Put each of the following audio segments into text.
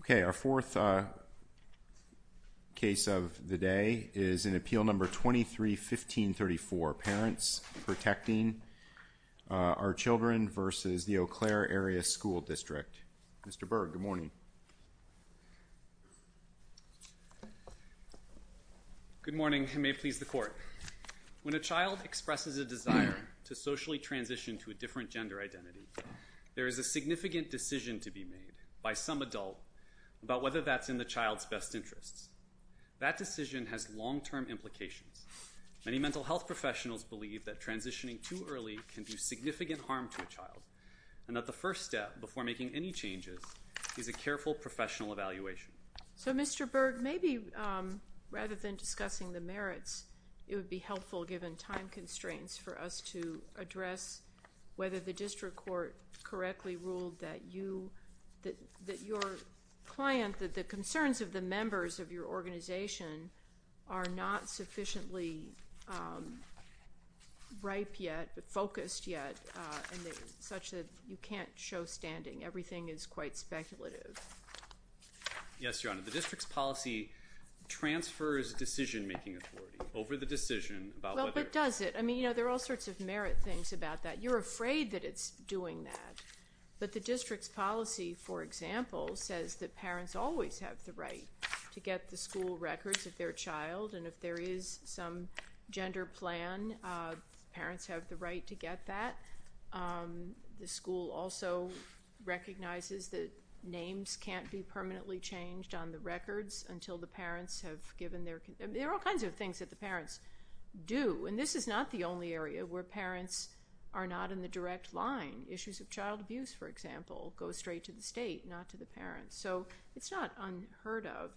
Okay, our fourth case of the day is in Appeal No. 23-1534, Parents Protecting Our Children v. Eau Claire Area School District. Mr. Berg, good morning. Good morning, and may it please the Court. When a child expresses a desire to socially transition to a different gender identity, there is a significant decision to be made by some adult about whether that's in the child's best interests. That decision has long-term implications. Many mental health professionals believe that transitioning too early can do significant harm to a child, and that the first step, before making any changes, is a careful professional evaluation. So, Mr. Berg, maybe rather than discussing the merits, it would be helpful, given time constraints, for us to address whether the district court correctly ruled that you, that your client, that the concerns of the members of your organization are not sufficiently ripe yet, focused yet, and such that you can't show standing. Everything is quite speculative. Yes, Your Honor. The district's policy transfers decision-making authority over the decision about whether— Well, but does it? I mean, you know, there are all sorts of merit things about that. You're afraid that it's doing that, but the district's policy, for example, says that parents always have the right to get the school records of their child, and if there is some gender plan, parents have the right to get that. The school also recognizes that names can't be permanently changed on the records until the parents have given their—there are all kinds of things that the parents do, and this is not the only area where parents are not in the direct line. Issues of child abuse, for example, go straight to the state, not to the parents. So it's not unheard of,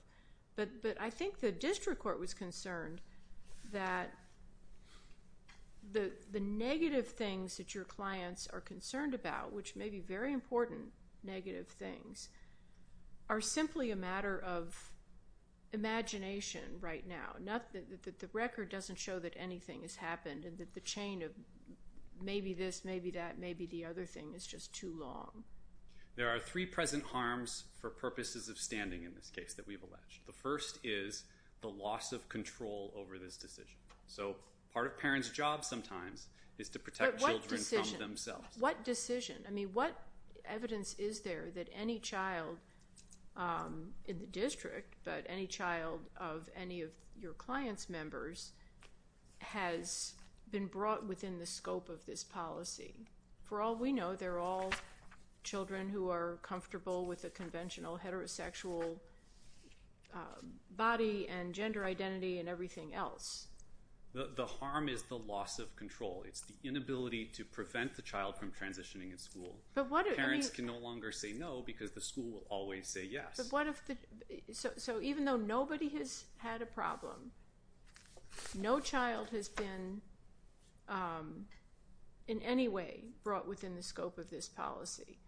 but I think the district court was concerned that the negative things that your clients are concerned about, which may be very important negative things, are simply a matter of imagination right now, that the record doesn't show that anything has happened and that the chain of maybe this, maybe that, maybe the other thing is just too long. There are three present harms for purposes of standing in this case that we've alleged. The first is the loss of control over this decision. So part of parents' job sometimes is to protect children from themselves. But what decision? What decision? I mean, what evidence is there that any child in the district, but any child of any of your clients' members, has been brought within the scope of this policy? For all we know, they're all children who are comfortable with a conventional heterosexual body and gender identity and everything else. The harm is the loss of control. It's the inability to prevent the child from transitioning in school. Parents can no longer say no because the school will always say yes. So even though nobody has had a problem, no child has been in any way brought within the scope of this policy.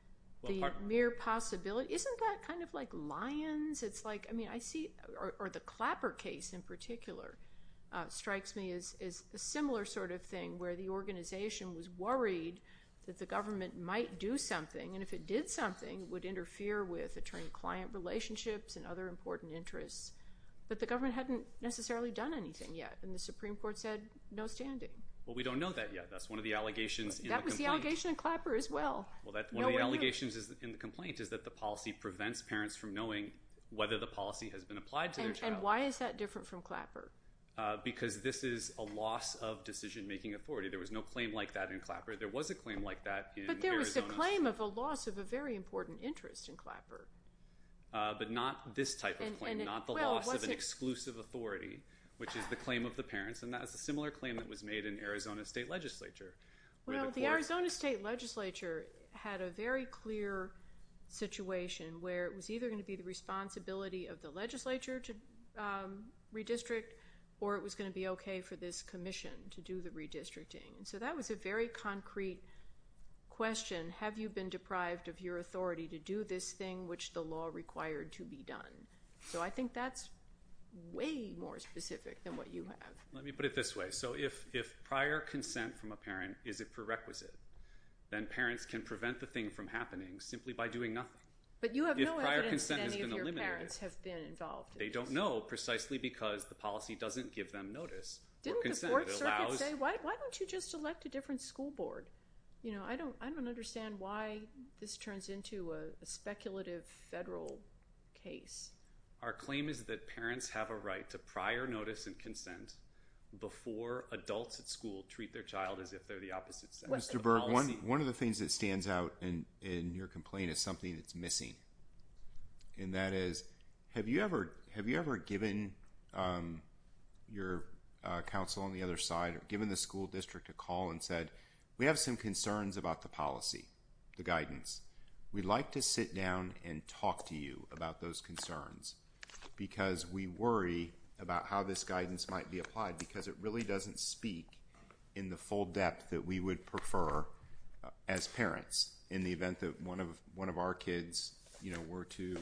The mere possibility—isn't that kind of like lions? Or the Clapper case in particular strikes me as a similar sort of thing where the organization was worried that the government might do something, and if it did something, would interfere with attorney-client relationships and other important interests. But the government hadn't necessarily done anything yet, and the Supreme Court said no standing. Well, we don't know that yet. That's one of the allegations in the complaint. That was the allegation in Clapper as well. Well, one of the allegations in the complaint is that the policy prevents parents from knowing whether the policy has been applied to their child. And why is that different from Clapper? Because this is a loss of decision-making authority. There was no claim like that in Clapper. There was a claim like that in Arizona. But there was a claim of a loss of a very important interest in Clapper. But not this type of claim, not the loss of an exclusive authority, which is the claim of the parents. And that was a similar claim that was made in Arizona State Legislature. Well, the Arizona State Legislature had a very clear situation where it was either going to be the responsibility of the legislature to redistrict, or it was going to be okay for this commission to do the redistricting. So that was a very concrete question. Have you been deprived of your authority to do this thing which the law required to be done? So I think that's way more specific than what you have. Let me put it this way. So if prior consent from a parent is a prerequisite, then parents can prevent the thing from happening simply by doing nothing. But you have no evidence that any of your parents have been involved in this. They don't know precisely because the policy doesn't give them notice or consent. Didn't the 4th Circuit say, why don't you just elect a different school board? I don't understand why this turns into a speculative federal case. Our claim is that parents have a right to prior notice and consent before adults at school treat their child as if they're the opposite sex. Mr. Berg, one of the things that stands out in your complaint is something that's missing. And that is, have you ever given your counsel on the other side or given the school district a call and said, we have some concerns about the policy, the guidance. We'd like to sit down and talk to you about those concerns because we worry about how this guidance might be applied because it really doesn't speak in the full depth that we would prefer as parents, in the event that one of our kids were to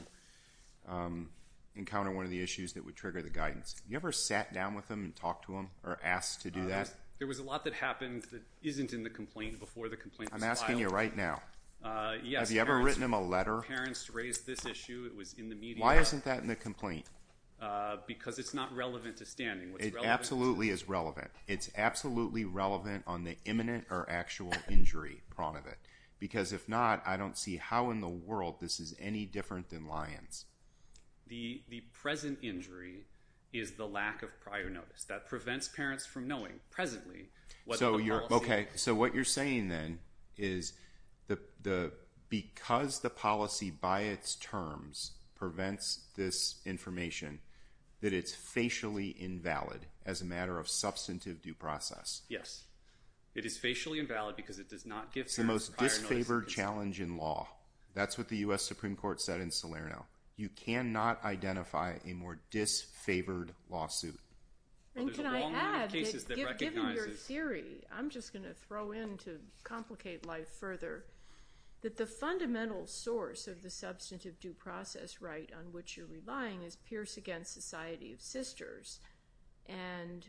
encounter one of the issues that would trigger the guidance. Have you ever sat down with them and talked to them or asked to do that? There was a lot that happened that isn't in the complaint before the complaint was filed. I'm asking you right now. Yes. Have you ever written them a letter? Parents raised this issue. It was in the media. Why isn't that in the complaint? Because it's not relevant to standing. It absolutely is relevant. It's absolutely relevant on the imminent or actual injury front of it. Because if not, I don't see how in the world this is any different than Lyons. The present injury is the lack of prior notice. That prevents parents from knowing presently what the policy is. Okay. So what you're saying then is because the policy by its terms prevents this information, that it's facially invalid as a matter of substantive due process. Yes. It is facially invalid because it does not give parents prior notice. It's the most disfavored challenge in law. That's what the U.S. Supreme Court said in Salerno. You cannot identify a more disfavored lawsuit. Given your theory, I'm just going to throw in to complicate life further, that the fundamental source of the substantive due process right on which you're relying is Pierce v. Society of Sisters and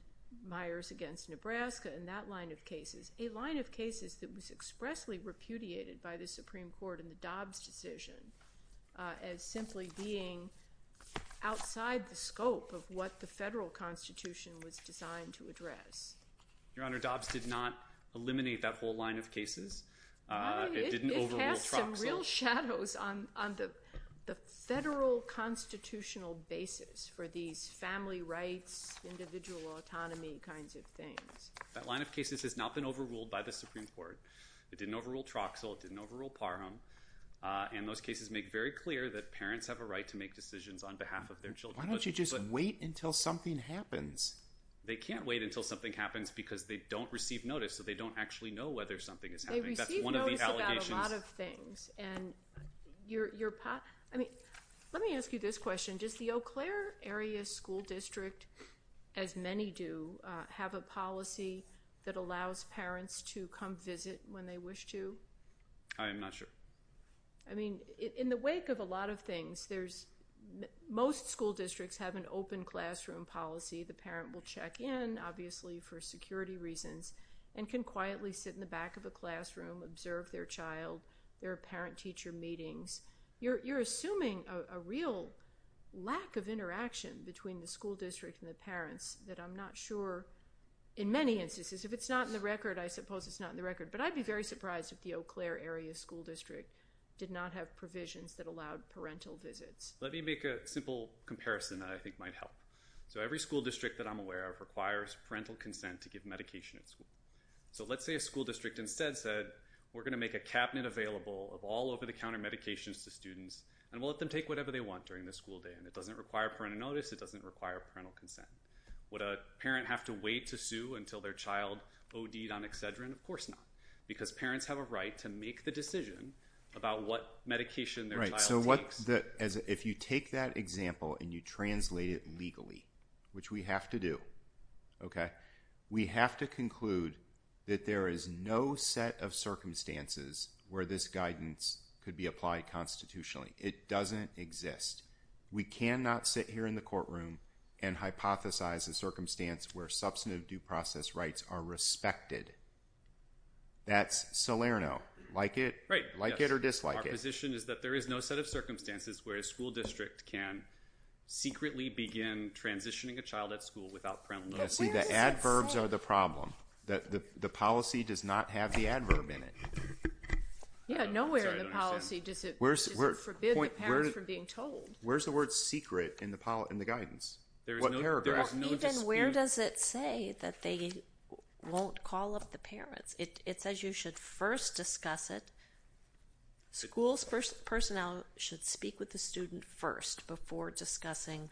Myers v. Nebraska and that line of cases, a line of cases that was expressly repudiated by the Supreme Court in the Dobbs decision as simply being outside the scope of what the federal constitution was designed to address. Your Honor, Dobbs did not eliminate that whole line of cases. It didn't overrule Troxel. It cast some real shadows on the federal constitutional basis for these family rights, individual autonomy kinds of things. That line of cases has not been overruled by the Supreme Court. It didn't overrule Troxel. It didn't overrule Parham. Those cases make very clear that parents have a right to make decisions on behalf of their children. Why don't you just wait until something happens? They can't wait until something happens because they don't receive notice, so they don't actually know whether something is happening. They receive notice about a lot of things. Let me ask you this question. Does the Eau Claire area school district, as many do, have a policy that allows parents to come visit when they wish to? I am not sure. In the wake of a lot of things, most school districts have an open classroom policy. The parent will check in, obviously, for security reasons and can quietly sit in the back of a classroom, observe their child, their parent-teacher meetings. You're assuming a real lack of interaction between the school district and the parents that I'm not sure, in many instances. If it's not in the record, I suppose it's not in the record. But I'd be very surprised if the Eau Claire area school district did not have provisions that allowed parental visits. Let me make a simple comparison that I think might help. Every school district that I'm aware of requires parental consent to give medication at school. Let's say a school district instead said, we're going to make a cabinet available of all over-the-counter medications to students and we'll let them take whatever they want during the school day. It doesn't require parental notice. It doesn't require parental consent. Would a parent have to wait to sue until their child OD'd on Excedrin? Of course not. Because parents have a right to make the decision about what medication their child takes. If you take that example and you translate it legally, which we have to do, we have to conclude that there is no set of circumstances where this guidance could be applied constitutionally. It doesn't exist. We cannot sit here in the courtroom and hypothesize a circumstance where substantive due process rights are respected. That's Salerno. Like it? Like it or dislike it? Our position is that there is no set of circumstances where a school district can secretly begin transitioning a child at school without parental notice. See, the adverbs are the problem. The policy does not have the adverb in it. Yeah, nowhere in the policy does it forbid the parents from being told. Where's the word secret in the guidance? Even where does it say that they won't call up the parents? It says you should first discuss it. Schools personnel should speak with the student first before discussing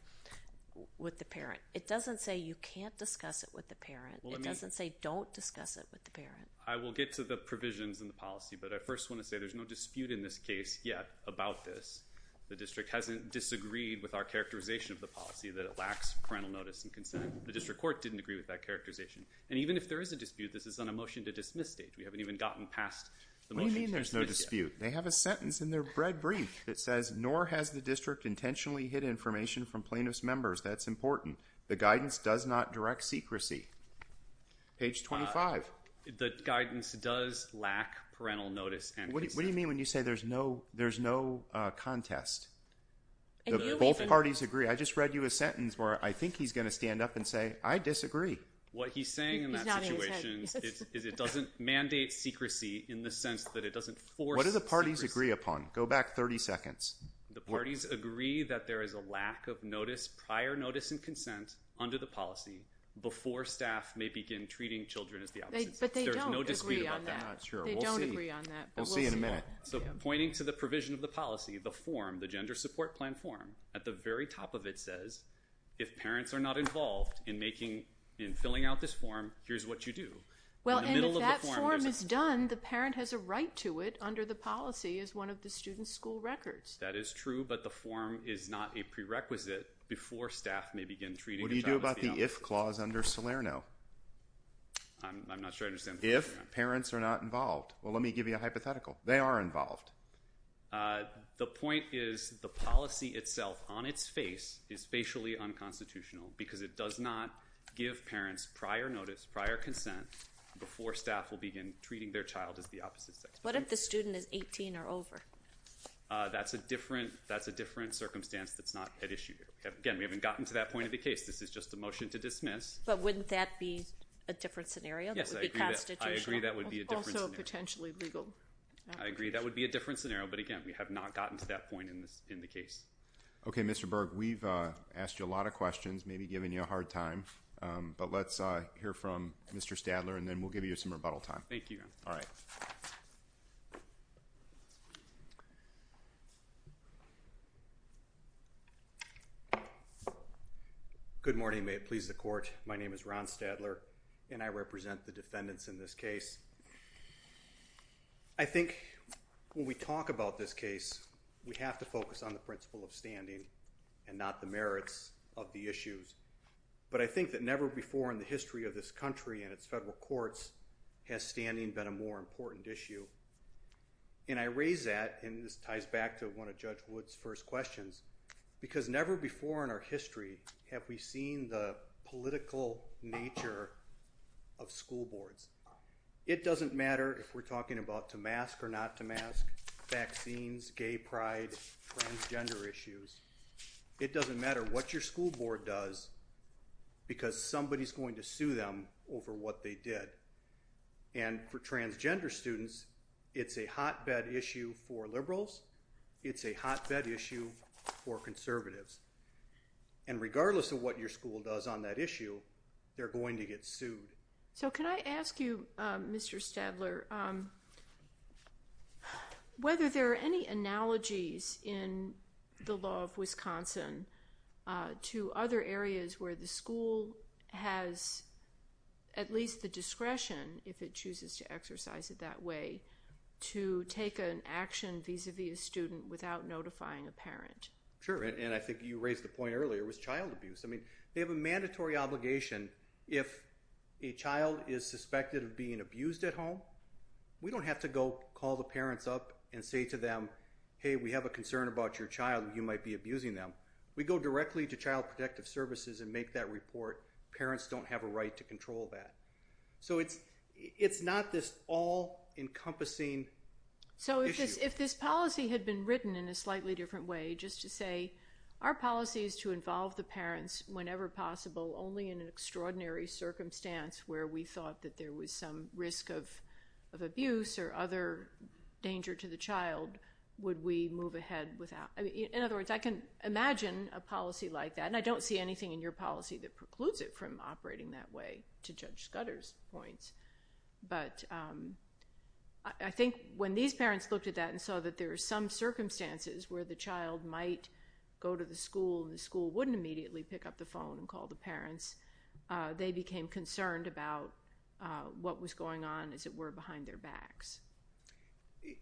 with the parent. It doesn't say you can't discuss it with the parent. It doesn't say don't discuss it with the parent. I will get to the provisions in the policy, but I first want to say there's no dispute in this case yet about this. The district hasn't disagreed with our characterization of the policy, that it lacks parental notice and consent. The district court didn't agree with that characterization. And even if there is a dispute, this is on a motion to dismiss stage. We haven't even gotten past the motion to dismiss yet. What do you mean there's no dispute? They have a sentence in their bread brief that says, nor has the district intentionally hid information from plaintiff's members. That's important. The guidance does not direct secrecy. Page 25. The guidance does lack parental notice and consent. What do you mean when you say there's no contest? Both parties agree. I just read you a sentence where I think he's going to stand up and say, I disagree. What he's saying in that situation is it doesn't mandate secrecy in the sense that it doesn't force secrecy. What do the parties agree upon? Go back 30 seconds. The parties agree that there is a lack of prior notice and consent under the statute. And that's why they're not going to begin treating children as the opposite. There's no dispute about that. We'll see in a minute. So pointing to the provision of the policy, the form, the gender support plan form at the very top of it says, if parents are not involved in making, in filling out this form, here's what you do. Well, if that form is done, the parent has a right to it under the policy is one of the students school records. That is true, but the form is not a prerequisite before staff may begin treating. What do you do about the, if clause under Salerno? I'm not sure. I understand if parents are not involved. Well, let me give you a hypothetical. They are involved. Uh, the point is the policy itself on its face is facially unconstitutional because it does not give parents prior notice, prior consent before staff will begin treating their child as the opposite. What if the student is 18 or over? Uh, that's a different, that's a different circumstance. That's not an issue. Again, we haven't gotten to that point of the case. This is just a motion to dismiss, but wouldn't that be a different scenario? Yes. I agree. That would be a different potentially legal. I agree. That would be a different scenario. But again, we have not gotten to that point in this, in the case. Okay. Mr. Berg, we've, uh, asked you a lot of questions, maybe giving you a hard time. Um, but let's, uh, hear from Mr. Stadler and then we'll give you some rebuttal time. Thank you. All right. Good morning. May it please the court. My name is Ron Stadler and I represent the defendants in this case. I think when we talk about this case, we have to focus on the principle of standing and not the merits of the issues. But I think that never before in the history of this country and its federal courts has standing been a more important issue. And I raise that and this ties back to one of judge Woods first questions because never before in our history have we seen the political nature of school boards. It doesn't matter if we're talking about to mask or not to mask vaccines, gay pride, transgender issues. It doesn't matter what your school board does because somebody's going to sue them over what they did. And for transgender students, it's a hotbed issue for liberals. It's a hotbed issue for conservatives. And regardless of what your school does on that issue, they're going to get sued. So can I ask you, Mr. Stadler, whether there are any analogies in the law of Wisconsin to other areas where the school has at least the discretion, if it chooses to exercise it that way to take an action vis-a-vis a student without notifying a parent. Sure. And I think you raised the point earlier was child abuse. I mean, they have a mandatory obligation. If a child is suspected of being abused at home, we don't have to go call the parents up and say to them, Hey, we have a concern about your child and you might be abusing them. We go directly to child protective services and make that report. Parents don't have a right to control that. So it's, it's not this all encompassing. So if this, this policy had been written in a slightly different way, just to say our policies to involve the parents whenever possible, only in an extraordinary circumstance where we thought that there was some risk of, of abuse or other danger to the child, would we move ahead without, I mean, in other words, I can imagine a policy like that and I don't see anything in your policy that precludes it from operating that way to judge Scudder's points. But, um, I think when these parents looked at that and saw that there are some circumstances where the child might go to the school and the school wouldn't immediately pick up the phone and call the parents, uh, they became concerned about, uh, what was going on as it were behind their backs.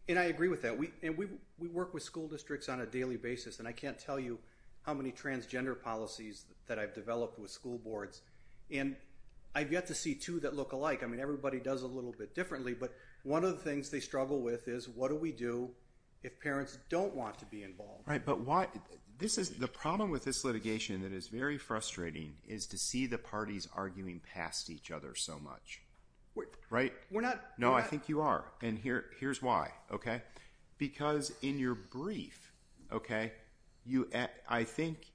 And I agree with that. We, and we, we work with school districts on a daily basis and I can't tell you how many transgender policies that I've developed with school boards. And I've yet to see two that look alike. I mean, everybody does a little bit differently, but one of the things they struggle with is what do we do if parents don't want to be involved? Right. But why this is the problem with this litigation that is very frustrating is to see the parties arguing past each other so much, right? We're not, no, I think you are. And here, here's why. Okay. Because in your brief, okay, you, I think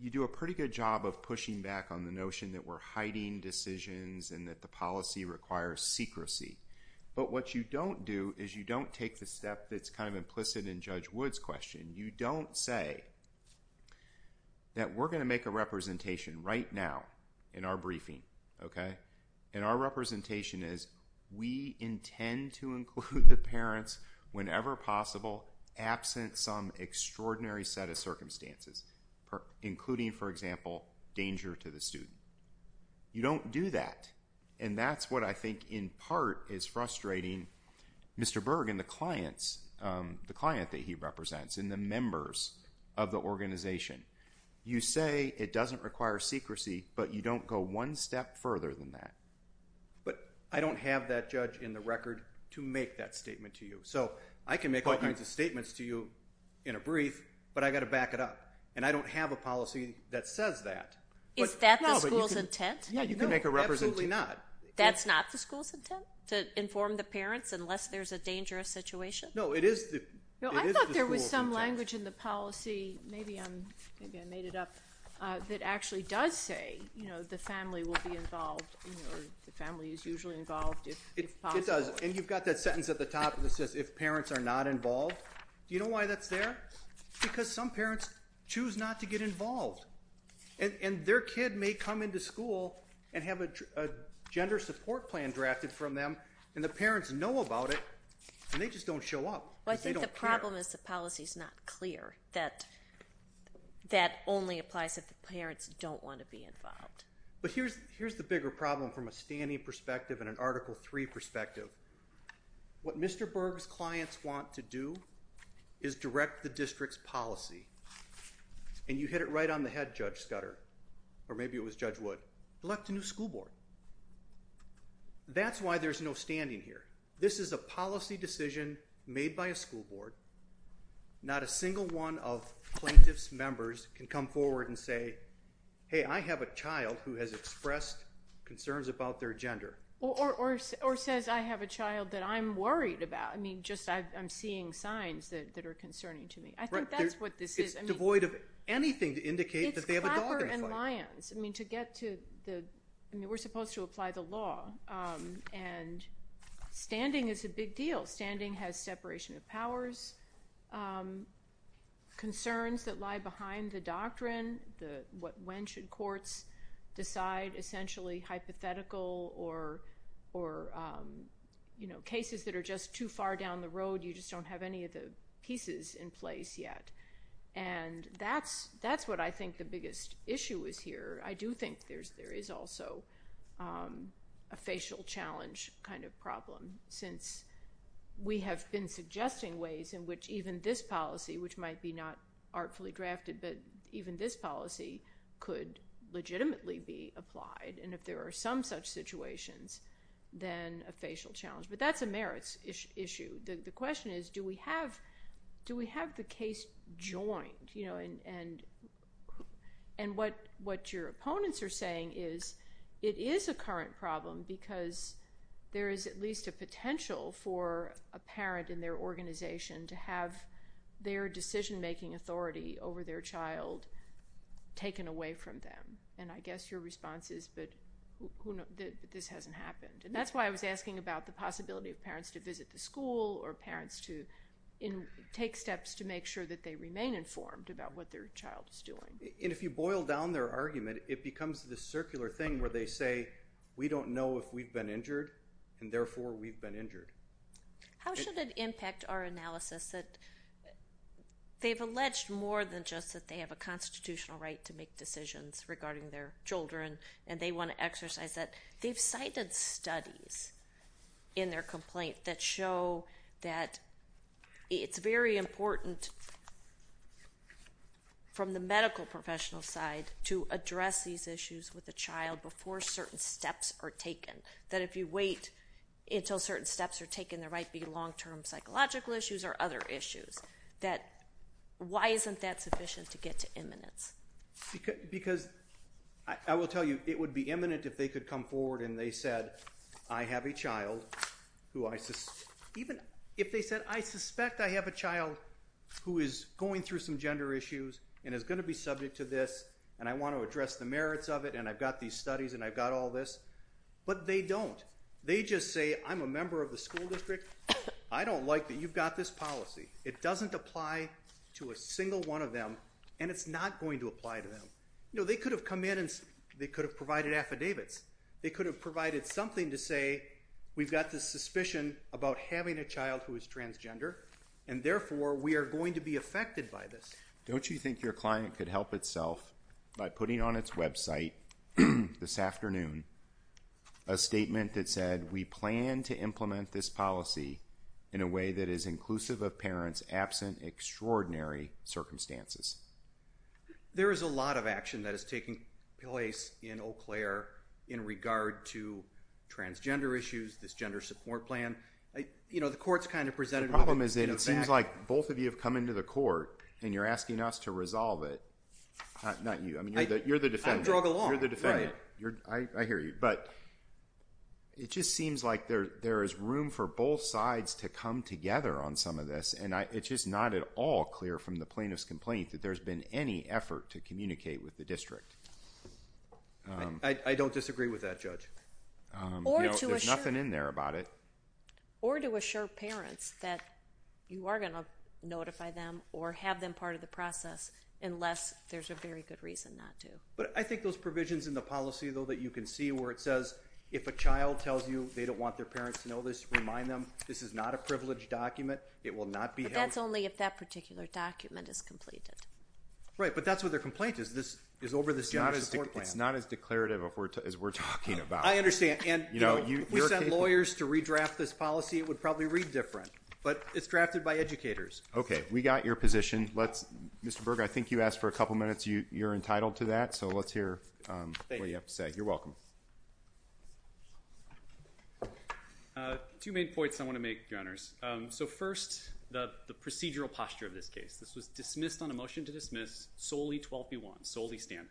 you do a pretty good job of pushing back on the notion that we're going to make a representation right now in our briefing. Okay. And our representation is we intend to include the parents whenever possible absent some extraordinary set of circumstances, including, for example, and, and, and, and, and, and, and, and, and, and, and that's what I think in part it's frustrating Mr. Berg in the clients. Um, the client that he represents in the members of the organization, you say it doesn't require secrecy, but you don't go one step further than that. But I don't have that judge in the record to make that statement to you. So I can make all kinds of statements to you in a brief, but I got to back it up and I don't have a policy that says that, but is that the school's intent? You can make a represent. Absolutely not. That's not the school's intent to inform the parents unless there's a dangerous situation. No, it is. I thought there was some language in the policy. Maybe I'm, maybe I made it up that actually does say, you know, the family will be involved. The family is usually involved. It does. And you've got that sentence at the top of the says, if parents are not involved, do you know why that's there? Because some parents choose not to get involved and their kid may come into school and have a gender support plan drafted from them. And the parents know about it and they just don't show up. I think the problem is the policy is not clear that that only applies if the parents don't want to be involved. But here's, here's the bigger problem from a standing perspective and an article three perspective, what Mr. Berg's clients want to do is direct the district's policy. And you hit it right on the head judge Scudder, or maybe it was judge would elect a new school board. That's why there's no standing here. This is a policy decision made by a school board. Not a single one of plaintiffs members can come forward and say, Hey, I have a child who has expressed concerns about their gender or, or, or says, I have a child that I'm worried about. I mean, just I I'm seeing signs that are concerning to me. I think that's what this is. It's devoid of anything to indicate that they have a dog and lions. I mean, to get to the, I mean, we're supposed to apply the law and standing is a big deal. Standing has separation of powers. Concerns that lie behind the doctrine, the what, when should courts decide essentially hypothetical or, or you know, cases that are just too far down the road. You just don't have any of the pieces in place yet. And that's, that's what I think the biggest issue is here. I do think there's, there is also a facial challenge kind of problem since we have been suggesting ways in which even this policy, which might be not artfully drafted, but even this policy could legitimately be applied. And if there are some such situations, then a facial challenge, but that's a merits issue. The question is, do we have, do we have the case joined, you know, and, and what, what your opponents are saying is it is a current problem because there is at least a potential for a parent in their organization to have their decision-making authority over their child taken away from them. And I guess your response is, but who knows that this hasn't happened. And that's why I was asking about the possibility of parents to visit the to make sure that they remain informed about what their child is doing. And if you boil down their argument, it becomes the circular thing where they say, we don't know if we've been injured and therefore we've been injured. How should it impact our analysis that they've alleged more than just that they have a constitutional right to make decisions regarding their children and they want to exercise that they've cited studies in their complaint that show that it's very important from the medical professional side to address these issues with a child before certain steps are taken, that if you wait until certain steps are taken, there might be long-term psychological issues or other issues that, why isn't that sufficient to get to eminence? Because I will tell you, it would be eminent if they could come forward and they said, I have a child who I, even if they said, I suspect I have a child who is going through some gender issues and is going to be subject to this. And I want to address the merits of it and I've got these studies and I've got all this, but they don't, they just say, I'm a member of the school district. I don't like that. You've got this policy. It doesn't apply to a single one of them and it's not going to apply to them. No, they could have come in and they could have provided affidavits. They could have provided something to say, we've got this suspicion about having a child who is transgender and therefore we are going to be affected by this. Don't you think your client could help itself by putting on its website this afternoon, a statement that said, we plan to implement this policy in a way that is inclusive of parents, absent extraordinary circumstances. There is a lot of action that is taking place in Eau Claire in regard to transgender issues, this gender support plan. I, you know, the court's kind of presented. Problem is that it seems like both of you have come into the court and you're asking us to resolve it. Not you. I mean, you're the, you're the defendant. You're the defendant. You're I, I hear you, but it just seems like there, there is room for both sides to come together on some of this. And I, it's just not at all clear from the plaintiff's complaint that there's been any effort to communicate with the district. I don't disagree with that judge. There's nothing in there about it. Or to assure parents that you are going to notify them or have them part of the process, unless there's a very good reason not to. But I think those provisions in the policy though, that you can see where it says if a child tells you they don't want their parents to know this, remind them, this is not a privileged document. It will not be held. That's only if that particular document is completed. Right. But that's what their complaint is. This is over this. It's not as declarative as we're talking about. I understand. And you know, we sent lawyers to redraft this policy. It would probably read different, but it's drafted by educators. Okay. We got your position. Let's Mr. Berger. I think you asked for a couple of minutes. You you're entitled to that. So let's hear what you have to say. You're welcome. Uh, two main points I want to make your honors. Um, so first the, the procedural posture of this case, this was dismissed on a motion to dismiss solely 12 P one solely standard.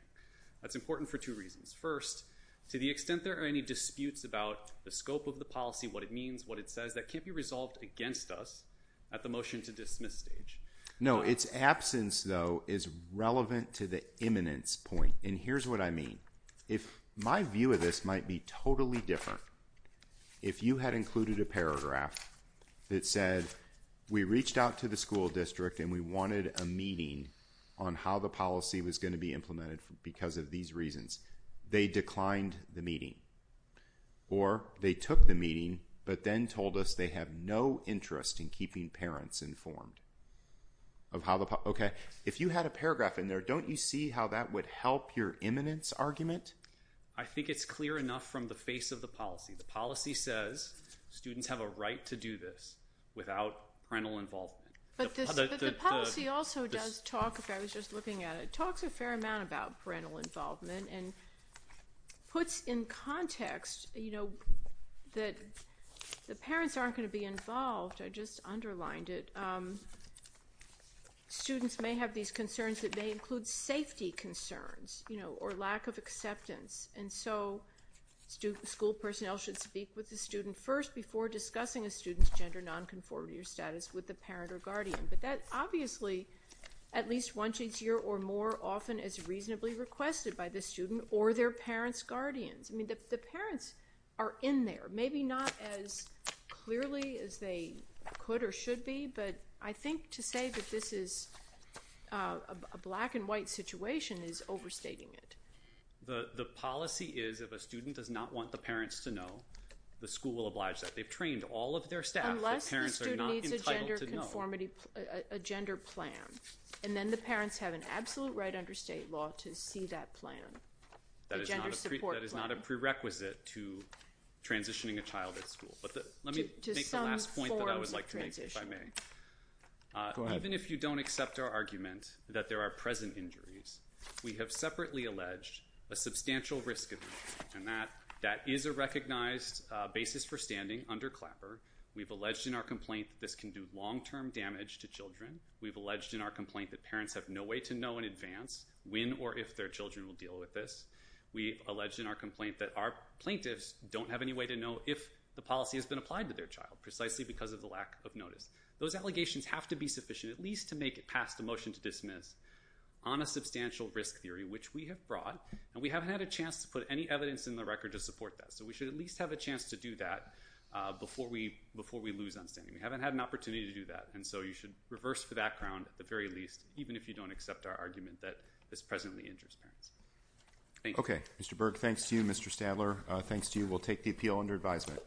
That's important for two reasons. First, to the extent there are any disputes about the scope of the policy, what it means, what it says that can't be resolved against us at the motion to dismiss stage. No, it's absence though is relevant to the eminence point. And here's what I mean. If my view of this might be totally different, if you had included a paragraph that said, we reached out to the school district and we wanted a meeting on how the policy was going to be implemented because of these reasons, they declined the meeting or they took the meeting, but then told us they have no interest in keeping parents informed of how the Okay. If you had a paragraph in there, don't you see how that would help your eminence argument? I think it's clear enough from the face of the policy. The policy says students have a right to do this without parental involvement, but the policy also does talk. If I was just looking at it, it talks a fair amount about parental involvement and puts in context, you know, that the parents aren't going to be involved. I just underlined it. Students may have these concerns that may include safety concerns, you know, or lack of acceptance. And so students, school personnel should speak with the student first before discussing a student's gender nonconformity or status with the parent or guardian, but that obviously at least once a year or more often as reasonably requested by the student or their parents, guardians. I mean, the parents are in there, maybe not as clearly as they could or should be, but I think to say that this is a black and white situation is overstating it. The policy is if a student does not want the parents to know the school will oblige that they've trained all of their staff. Parents are not entitled to know a gender plan. And then the parents have an absolute right under state law to see that plan. That is not a prerequisite to transitioning a child at school, but let me make the last point that I would like to make. Even if you don't accept our argument that there are present injuries, we have separately alleged a substantial risk and that that is a recognized basis for standing under Clapper. We've alleged in our complaint that this can do long-term damage to children. We've alleged in our complaint that parents have no way to know in advance when or if their children will deal with this. We alleged in our complaint that our plaintiffs don't have any way to know if the policy has been applied to their child precisely because of the lack of notice, those allegations have to be sufficient, at least to make it past the motion to dismiss on a substantial risk theory, which we have brought. And we haven't had a chance to put any evidence in the record to support that. So we should at least have a chance to do that. Before we, before we lose on standing, we haven't had an opportunity to do that. And so you should reverse for that ground at the very least, even if you don't accept our argument that this presently injures parents. Okay. Mr. Berg. Thanks to you, Mr. Stadler. Thanks to you. We'll take the appeal under advisement.